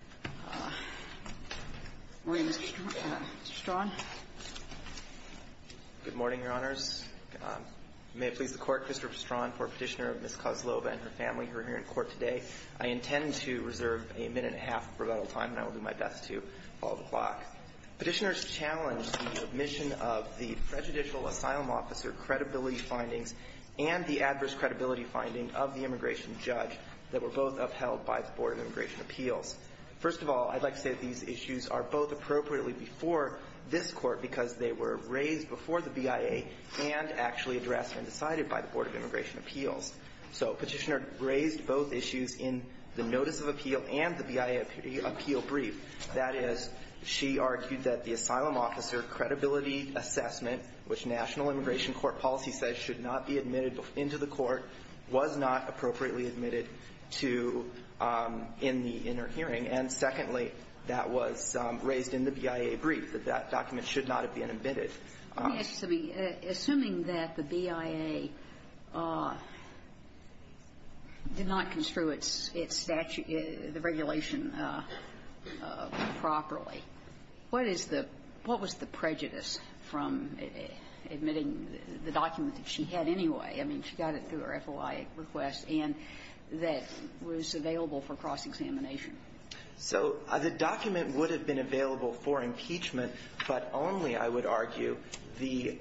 and her family who are here in court today. I intend to reserve a minute-and-a-half of rebuttal time, and I will do my best to follow the clock. Petitioners challenged the admission of the prejudicial asylum officer credibility findings and the adverse credibility finding of the immigration judge that were both upheld by the Board of Immigration Appeals. First of all, I'd like to say that these issues are both appropriately before this Court because they were raised before the BIA and actually addressed and decided by the Board of Immigration Appeals. So Petitioner raised both issues in the Notice of Appeal and the BIA Appeal Brief. That is, she argued that the asylum officer credibility assessment, which National Immigration Court policy says should not be admitted to in the inner hearing. And secondly, that was raised in the BIA Brief, that that document should not have been admitted. Ginsburg. Let me ask you something. Assuming that the BIA did not construe its statute or the regulation properly, what is the – what was the prejudice from admitting the document that she had anyway? I mean, she got it through her FOI request and that was available for cross-examination. So the document would have been available for impeachment, but only, I would argue, the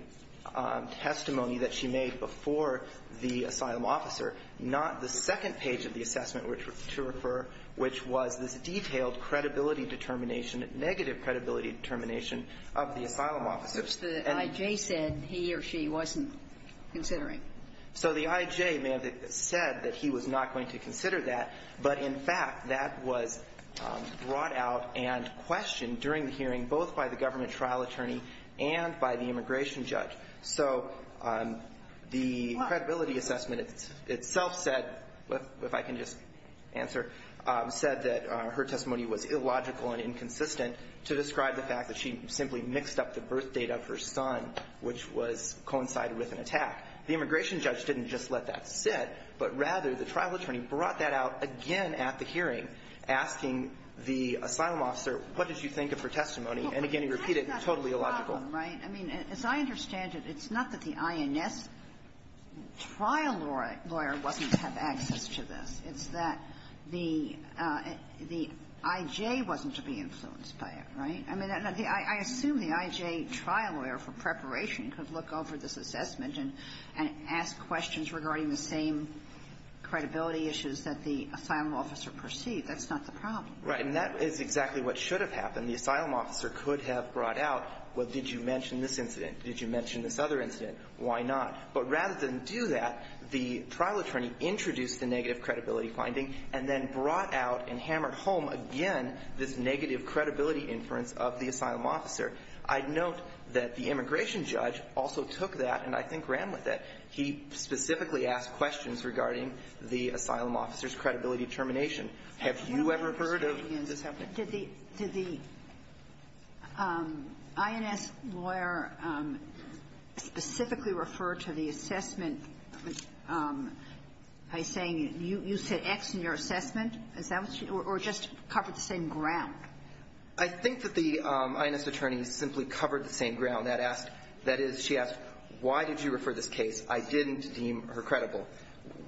testimony that she made before the asylum officer, not the second page of the assessment to refer, which was this detailed credibility determination, negative credibility determination of the asylum officer. The I.J. said he or she wasn't considering. So the I.J. said that he was not going to consider that, but in fact, that was brought out and questioned during the hearing both by the government trial attorney and by the immigration judge. So the credibility assessment itself said, if I can just answer, said that her testimony was illogical and inconsistent to describe the fact that she simply mixed up the birthdate of her son, which was coincided with an attack. The immigration judge didn't just let that sit, but rather the trial attorney brought that out again at the hearing, asking the asylum officer, what did you think of her testimony? And again, he repeated, totally illogical. Well, but that's not the problem, right? I mean, as I understand it, it's not that the INS trial lawyer wasn't to have access to this. It's that the – the I.J. wasn't to be influenced by it, right? I mean, I assume the I.J. trial lawyer, for preparation, could look over this assessment and ask questions regarding the same credibility issues that the asylum officer perceived. That's not the problem. Right. And that is exactly what should have happened. The asylum officer could have brought out, well, did you mention this incident? Did you mention this other incident? Why not? But rather than do that, the trial attorney introduced the negative credibility finding and then brought out and hammered home again this negative credibility inference of the asylum officer. I note that the immigration judge also took that, and I think ran with it. He specifically asked questions regarding the asylum officer's credibility termination. Have you ever heard of this happening? Did the – did the INS lawyer specifically refer to the assessment by saying you said X in your assessment, or just covered the same ground? I think that the INS attorney simply covered the same ground. That asked – that is, she asked why did you refer this case. I didn't deem her credible.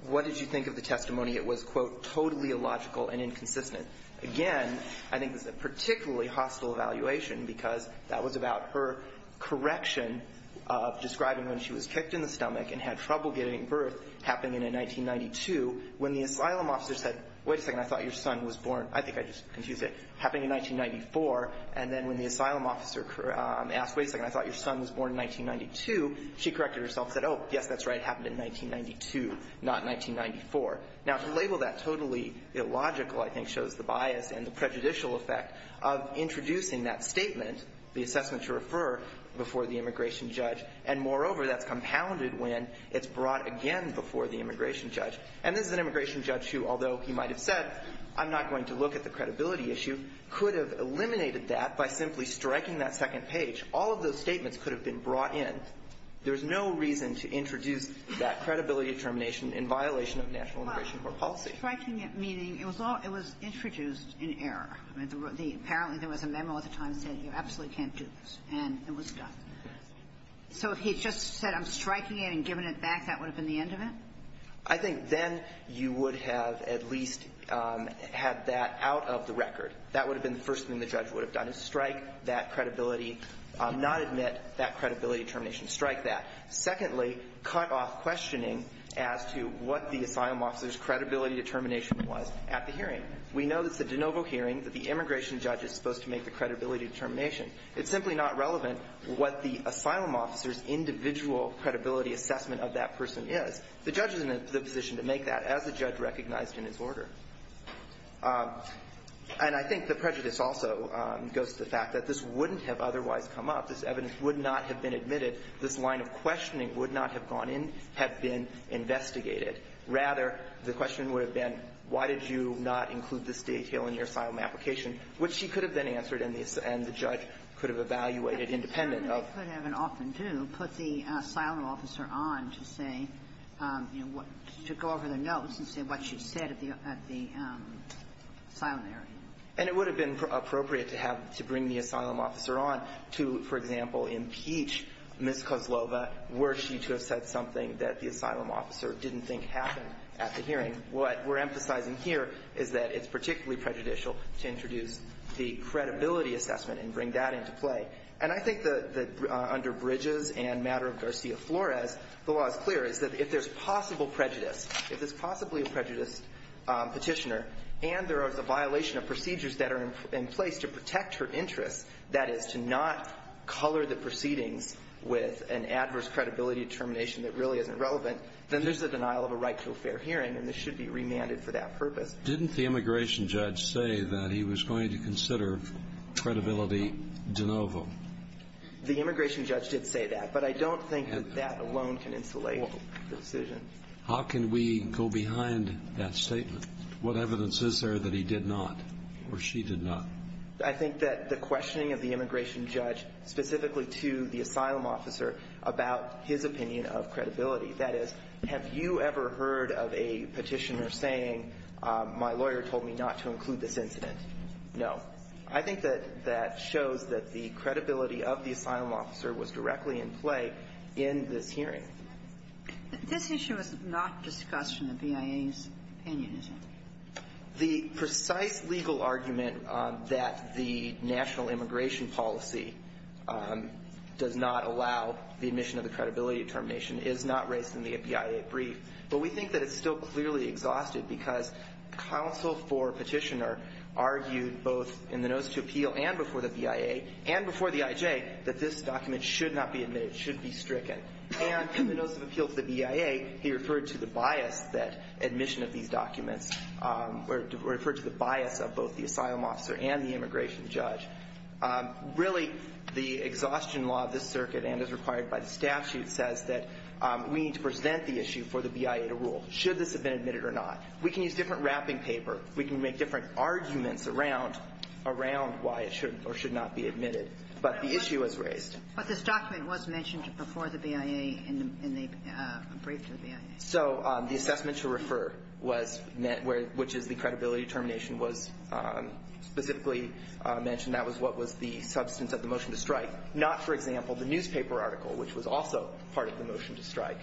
What did you think of the testimony? It was, quote, totally illogical and inconsistent. Again, I think it's a particularly hostile evaluation because that was about her correction of describing when she was kicked in the stomach and had trouble getting birth, happening in 1992, when the asylum officer said, wait a second, I thought your son was born – I think I just confused it – happening in 1994, and then when the asylum officer asked, wait a second, I thought your son was born in 1992, she corrected herself, said, oh, yes, that's right, it happened in 1992, not 1994. Now, to label that totally illogical, I think, shows the bias and the prejudicial effect of introducing that statement, the assessment to refer, before the immigration judge, and, moreover, that's compounded when it's brought again before the immigration judge. And this is an immigration judge who, although he might have said, I'm not going to look at the credibility issue, could have eliminated that by simply striking that second page. All of those statements could have been brought in. There's no reason to introduce that credibility determination in violation of national immigration court policy. Well, striking it meaning it was all – it was introduced in error. I mean, the – apparently there was a memo at the time that said you absolutely can't do this, and it was done. So if he just said, I'm striking it and giving it back, that would have been the end of it? I think then you would have at least had that out of the record. That would have been the first thing the judge would have done, is strike that credibility, not admit that credibility determination, strike that. Secondly, cut off questioning as to what the asylum officer's credibility determination was at the hearing. We know that it's a de novo hearing, that the immigration judge is supposed to make the credibility determination. It's simply not relevant what the asylum officer's individual credibility assessment of that person is. The judge is in the position to make that, as the judge recognized in his order. And I think the prejudice also goes to the fact that this wouldn't have otherwise come up. This evidence would not have been admitted. This line of questioning would not have gone in, have been investigated. Rather, the question would have been, why did you not include this detail in your report that could have evaluated independent of the asylum officer's credibility determination? And certainly, they could have, and often do, put the asylum officer on to say, you know, to go over their notes and say what she said at the asylum area. And it would have been appropriate to have, to bring the asylum officer on to, for example, impeach Ms. Kozlova were she to have said something that the asylum officer didn't think happened at the hearing. What we're emphasizing here is that it's particularly prejudicial to introduce the credibility assessment and bring that into play. And I think that under Bridges and matter of Garcia-Flores, the law is clear, is that if there's possible prejudice, if it's possibly a prejudiced Petitioner, and there is a violation of procedures that are in place to protect her interests, that is, to not color the proceedings with an adverse credibility determination that really isn't relevant, then there's a denial of a right to a fair hearing, and this should be remanded for that purpose. Didn't the immigration judge say that he was going to consider credibility de novo? The immigration judge did say that, but I don't think that that alone can insulate the decision. How can we go behind that statement? What evidence is there that he did not, or she did not? I think that the questioning of the immigration judge, specifically to the asylum officer, about his opinion of credibility. That is, have you ever heard of a Petitioner saying, my lawyer told me not to include this incident? No. I think that that shows that the credibility of the asylum officer was directly in play in this hearing. This issue is not discussed in the BIA's opinion, is it? The precise legal argument that the national immigration policy does not allow the admission of the credibility determination is not raised in the BIA brief, but we think that it's still clearly exhausted because counsel for Petitioner argued both in the notice to appeal and before the BIA, and before the IJ, that this document should not be admitted, should be stricken. And in the notice of appeal to the BIA, he referred to the bias that admission of these documents, or referred to the bias of both the asylum officer and the immigration judge. Really, the exhaustion law of this circuit, and as required by the statute, says that we need to present the issue for the BIA to rule, should this have been admitted or not. We can use different wrapping paper. We can make different arguments around why it should or should not be admitted, but the issue is raised. But this document was mentioned before the BIA in the brief to the BIA. So the assessment to refer, which is the credibility determination, was specifically mentioned. That was what was the substance of the motion to strike. Not, for example, the newspaper article, which was also part of the motion to strike.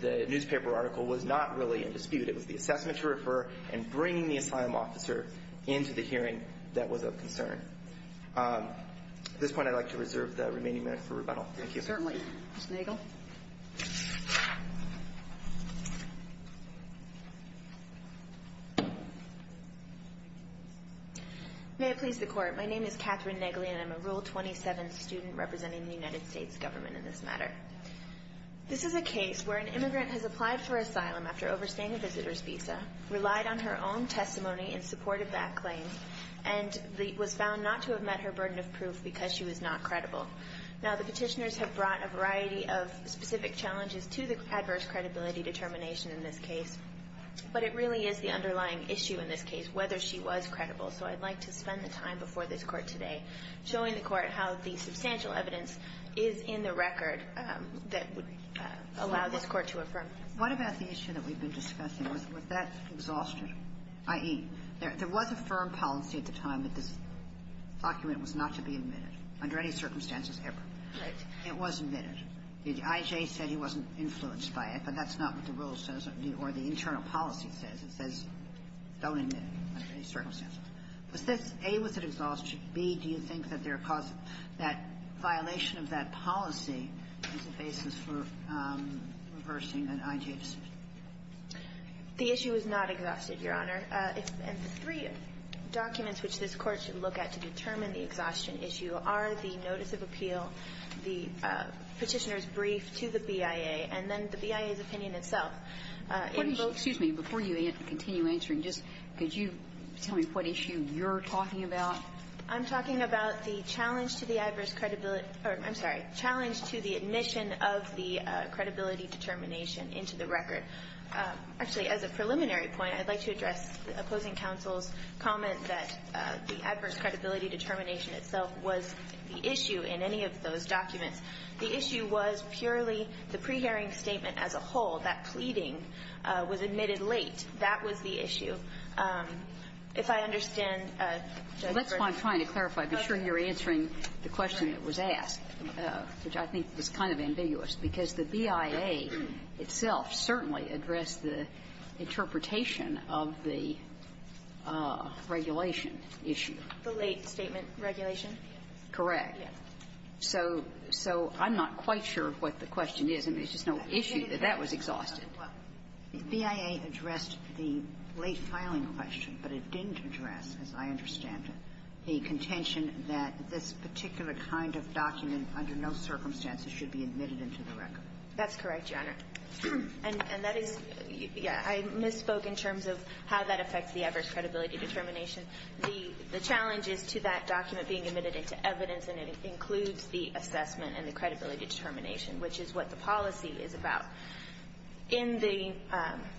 The newspaper article was not really in dispute. It was the assessment to refer and bringing the asylum officer into the hearing that was of concern. At this point, I'd like to reserve the remaining minute for rebuttal. Thank you. Certainly. Ms. Nagel. May it please the court. My name is Catherine Nagel, and I'm a Rule 27 student representing the United States government in this matter. This is a case where an immigrant has applied for asylum after overstaying a visitor's visa, relied on her own testimony in support of that claim, and was found not to have met her burden of proof because she was not credible. Now, the Petitioners have brought a variety of specific challenges to the adverse credibility determination in this case. But it really is the underlying issue in this case, whether she was credible. So I'd like to spend the time before this Court today showing the Court how the substantial evidence is in the record that would allow this Court to affirm. What about the issue that we've been discussing? Was that exhausted? I.e., there was a firm policy at the time that this document was not to be admitted under any circumstances ever. Right. It was admitted. I.J. said he wasn't influenced by it, but that's not what the rule says or the internal policy says. It says don't admit it under any circumstances. Was this, A, was it exhausted? B, do you think that there caused that violation of that policy as a basis for reversing an I.J. decision? The issue is not exhausted, Your Honor. The three documents which this Court should look at to determine the exhaustion issue are the notice of appeal, the Petitioner's brief to the BIA, and then the BIA's opinion itself. Excuse me. Before you continue answering, just could you tell me what issue you're talking about? I'm talking about the challenge to the adverse credibility or, I'm sorry, challenge to the admission of the credibility determination into the record. Actually, as a preliminary point, I'd like to address the opposing counsel's comment that the adverse credibility determination itself was the issue in any of those documents. The issue was purely the pre-hearing statement as a whole, that pleading was admitted late. That was the issue. If I understand, Judge Gershwin. Well, that's what I'm trying to clarify. I'm sure you're answering the question that was asked, which I think is kind of ambiguous, because the BIA itself certainly addressed the interpretation of the regulation issue. The late statement regulation? Correct. So so I'm not quite sure what the question is. I mean, it's just no issue that that was exhausted. Well, the BIA addressed the late filing question, but it didn't address, as I understand it, the contention that this particular kind of document under no circumstances should be admitted into the record. That's correct, Your Honor. And that is, yeah, I misspoke in terms of how that affects the adverse credibility determination. The challenge is to that document being admitted into evidence, and it includes the assessment and the credibility determination, which is what the policy is about. In the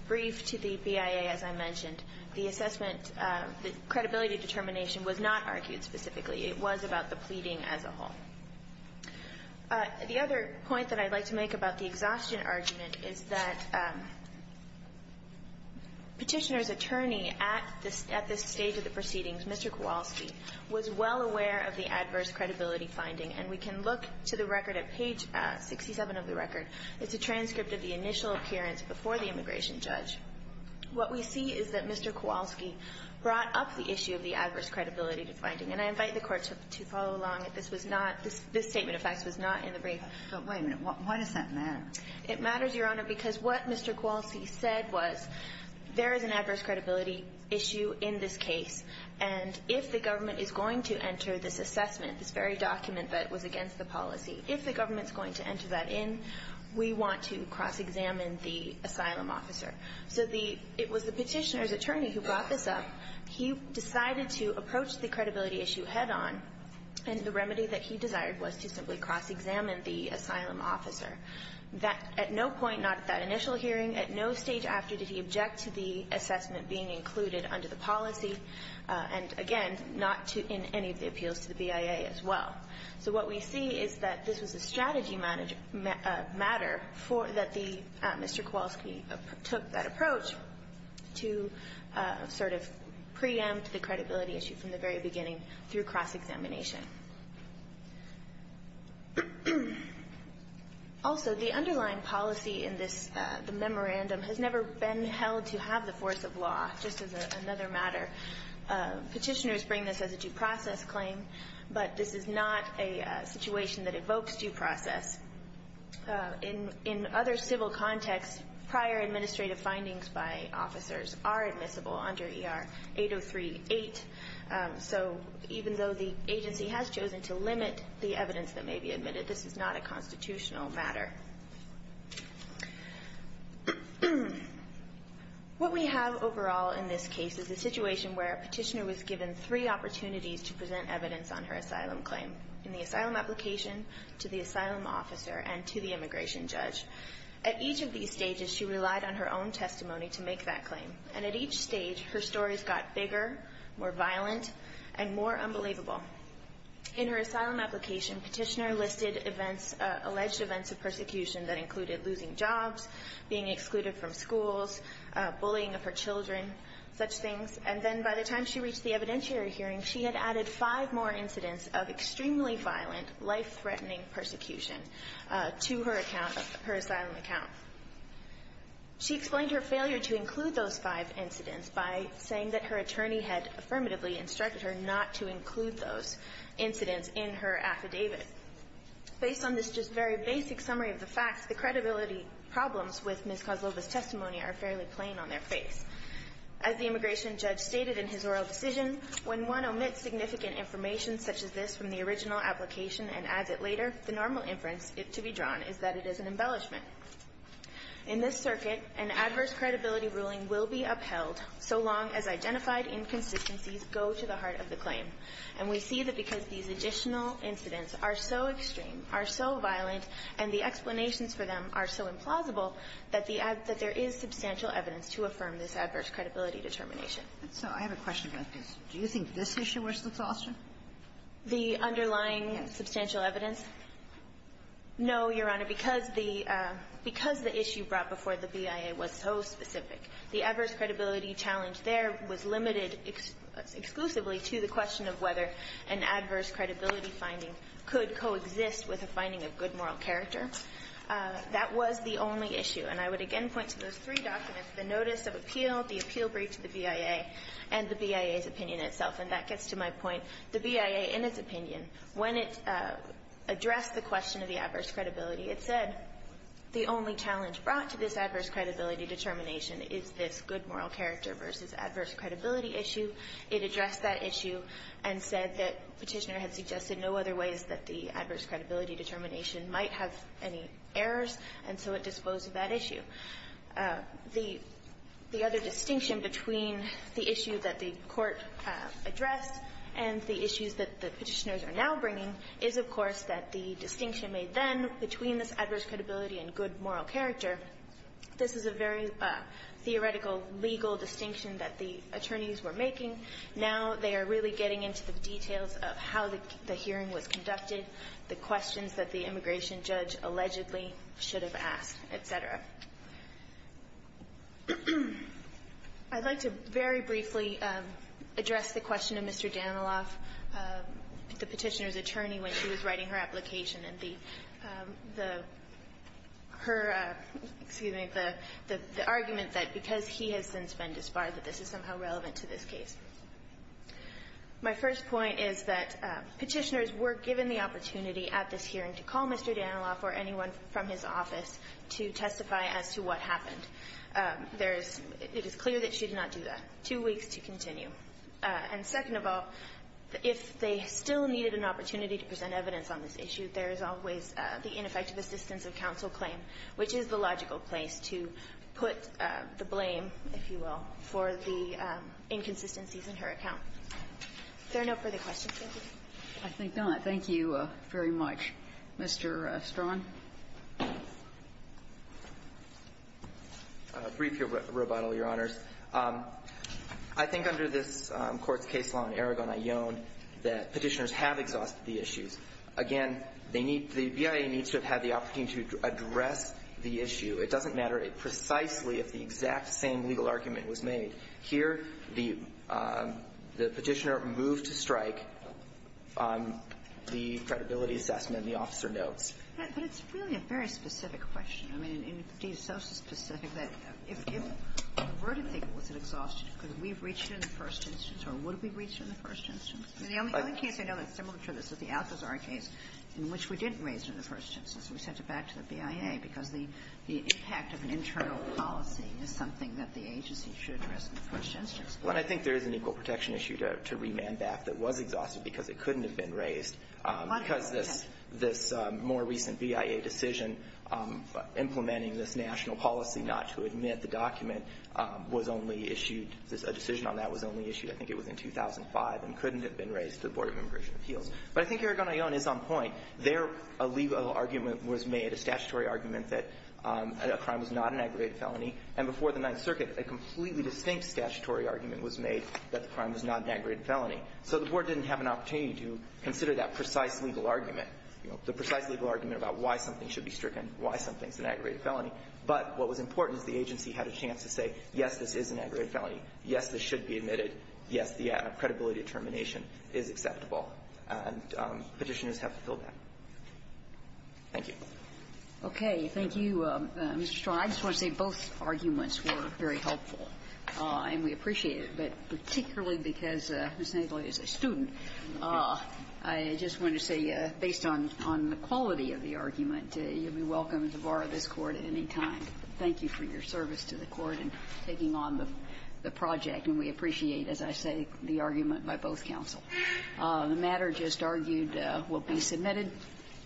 brief to the BIA, as I mentioned, the assessment, the credibility determination was not argued specifically. It was about the pleading as a whole. The other point that I'd like to make about the exhaustion argument is that Petitioner's attorney at this stage of the proceedings, Mr. Kowalski, was well aware of the adverse credibility finding. And we can look to the record at page 67 of the record. It's a transcript of the initial appearance before the immigration judge. What we see is that Mr. Kowalski brought up the issue of the adverse credibility finding. And I invite the Court to follow along. This was not, this statement of facts was not in the brief. But wait a minute, why does that matter? It matters, Your Honor, because what Mr. Kowalski said was, there is an adverse credibility issue in this case. And if the government is going to enter this assessment, this very document that was against the policy, if the government's going to enter that in, we want to cross-examine the asylum officer. So it was the Petitioner's attorney who brought this up. He decided to approach the credibility issue head on. And the remedy that he desired was to simply cross-examine the asylum officer. That at no point, not at that initial hearing, at no stage after did he object to the assessment being included under the policy. And again, not in any of the appeals to the BIA as well. So what we see is that this was a strategy matter that Mr. Kowalski took that approach to sort of preempt the credibility issue from the very beginning through cross-examination. Also, the underlying policy in this, the memorandum, has never been held to have the force of law, just as another matter. Petitioners bring this as a due process claim, but this is not a situation that evokes due process. In other civil contexts, prior administrative findings by officers are admissible under ER 8038. So even though the agency has chosen to limit the evidence that may be admitted, this is not a constitutional matter. What we have overall in this case is a situation where a petitioner was given three opportunities to present evidence on her asylum claim. In the asylum application, to the asylum officer, and to the immigration judge. At each of these stages, she relied on her own testimony to make that claim. And at each stage, her stories got bigger, more violent, and more unbelievable. In her asylum application, petitioner listed events, alleged events of persecution that included losing jobs, being excluded from schools, bullying of her children, such things. And then by the time she reached the evidentiary hearing, she had added five more incidents of extremely violent, life-threatening persecution to her account, her asylum account. She explained her failure to include those five incidents by saying that her attorney had affirmatively instructed her not to include those incidents in her affidavit. Based on this just very basic summary of the facts, the credibility problems with Ms. Kozlova's testimony are fairly plain on their face. As the immigration judge stated in his oral decision, when one omits significant information such as this from the original application and adds it later, the normal inference to be drawn is that it is an embellishment. In this circuit, an adverse credibility ruling will be upheld so long as identified inconsistencies go to the heart of the claim. And we see that because these additional incidents are so extreme, are so violent, and the explanations for them are so implausible, that the ad – that there is substantial evidence to affirm this adverse credibility determination. So I have a question about this. Do you think this issue was the foster? The underlying substantial evidence? No, Your Honor, because the – because the issue brought before the BIA was so specific, the adverse credibility challenge there was limited exclusively to the question of whether an adverse credibility finding could coexist with a finding of good moral character. That was the only issue. And I would again point to those three documents, the notice of appeal, the appeal brief to the BIA, and the BIA's opinion itself. And that gets to my point. The BIA, in its opinion, when it addressed the question of the adverse credibility, it said the only challenge brought to this adverse credibility determination is this good moral character versus adverse credibility issue. It addressed that issue and said that Petitioner had suggested no other ways that the adverse credibility determination might have any errors, and so it disposed of that issue. The other distinction between the issue that the Court addressed and the issues that the Petitioners are now bringing is, of course, that the distinction made then between this adverse credibility and good moral character, this is a very theoretical legal distinction that the attorneys were making. Now they are really getting into the details of how the hearing was conducted, the questions that the immigration judge allegedly should have asked, et cetera. I'd like to very briefly address the question of Mr. Daniloff, the Petitioner's attorney, when she was writing her application, and the her – excuse me – the argument that because he has since been disbarred that this is somehow relevant to this case. My first point is that Petitioners were given the opportunity at this hearing to call Mr. Daniloff or anyone from his office to testify as to what happened. There is – it is clear that she did not do that. Two weeks to continue. And second of all, if they still needed an opportunity to present evidence on this issue, there is always the ineffective assistance of counsel claim, which is the in her account. Is there no further questions, thank you? I think not. Thank you very much. Mr. Straughan. Briefly, Roboto, Your Honors. I think under this Court's case law in Aragon, I own that Petitioners have exhausted the issues. Again, they need – the BIA needs to have had the opportunity to address the issue. It doesn't matter precisely if the exact same legal argument was made. Here, the Petitioner moved to strike the credibility assessment and the officer notes. But it's really a very specific question. I mean, it is so specific that if – where do you think was it exhausted? Could we have reached it in the first instance? Or would we have reached it in the first instance? The only case I know that's similar to this is the Alcazar case, in which we didn't raise it in the first instance. We sent it back to the BIA because the impact of an internal policy is something that the agency should address in the first instance. Well, and I think there is an equal protection issue to remand back that was exhausted because it couldn't have been raised. Because this – this more recent BIA decision implementing this national policy not to admit the document was only issued – a decision on that was only issued, I think it was in 2005, and couldn't have been raised to the Board of Immigration Appeals. But I think Aragon, I own, is on point. There, a legal argument was made, a statutory argument, that a crime was not an aggravated felony. And before the Ninth Circuit, a completely distinct statutory argument was made that the crime was not an aggravated felony. So the Board didn't have an opportunity to consider that precise legal argument, you know, the precise legal argument about why something should be stricken, why something is an aggravated felony. But what was important is the agency had a chance to say, yes, this is an aggravated felony, yes, this should be admitted, yes, the credibility of termination is acceptable, and Petitioners have fulfilled that. Thank you. Okay. Thank you, Mr. Strong. I just want to say both arguments were very helpful, and we appreciate it. But particularly because Ms. Nagle is a student, I just want to say, based on the quality of the argument, you'll be welcome to borrow this Court at any time. Thank you for your service to the Court in taking on the project. And we appreciate, as I say, the argument by both counsel. The matter just argued will be submitted.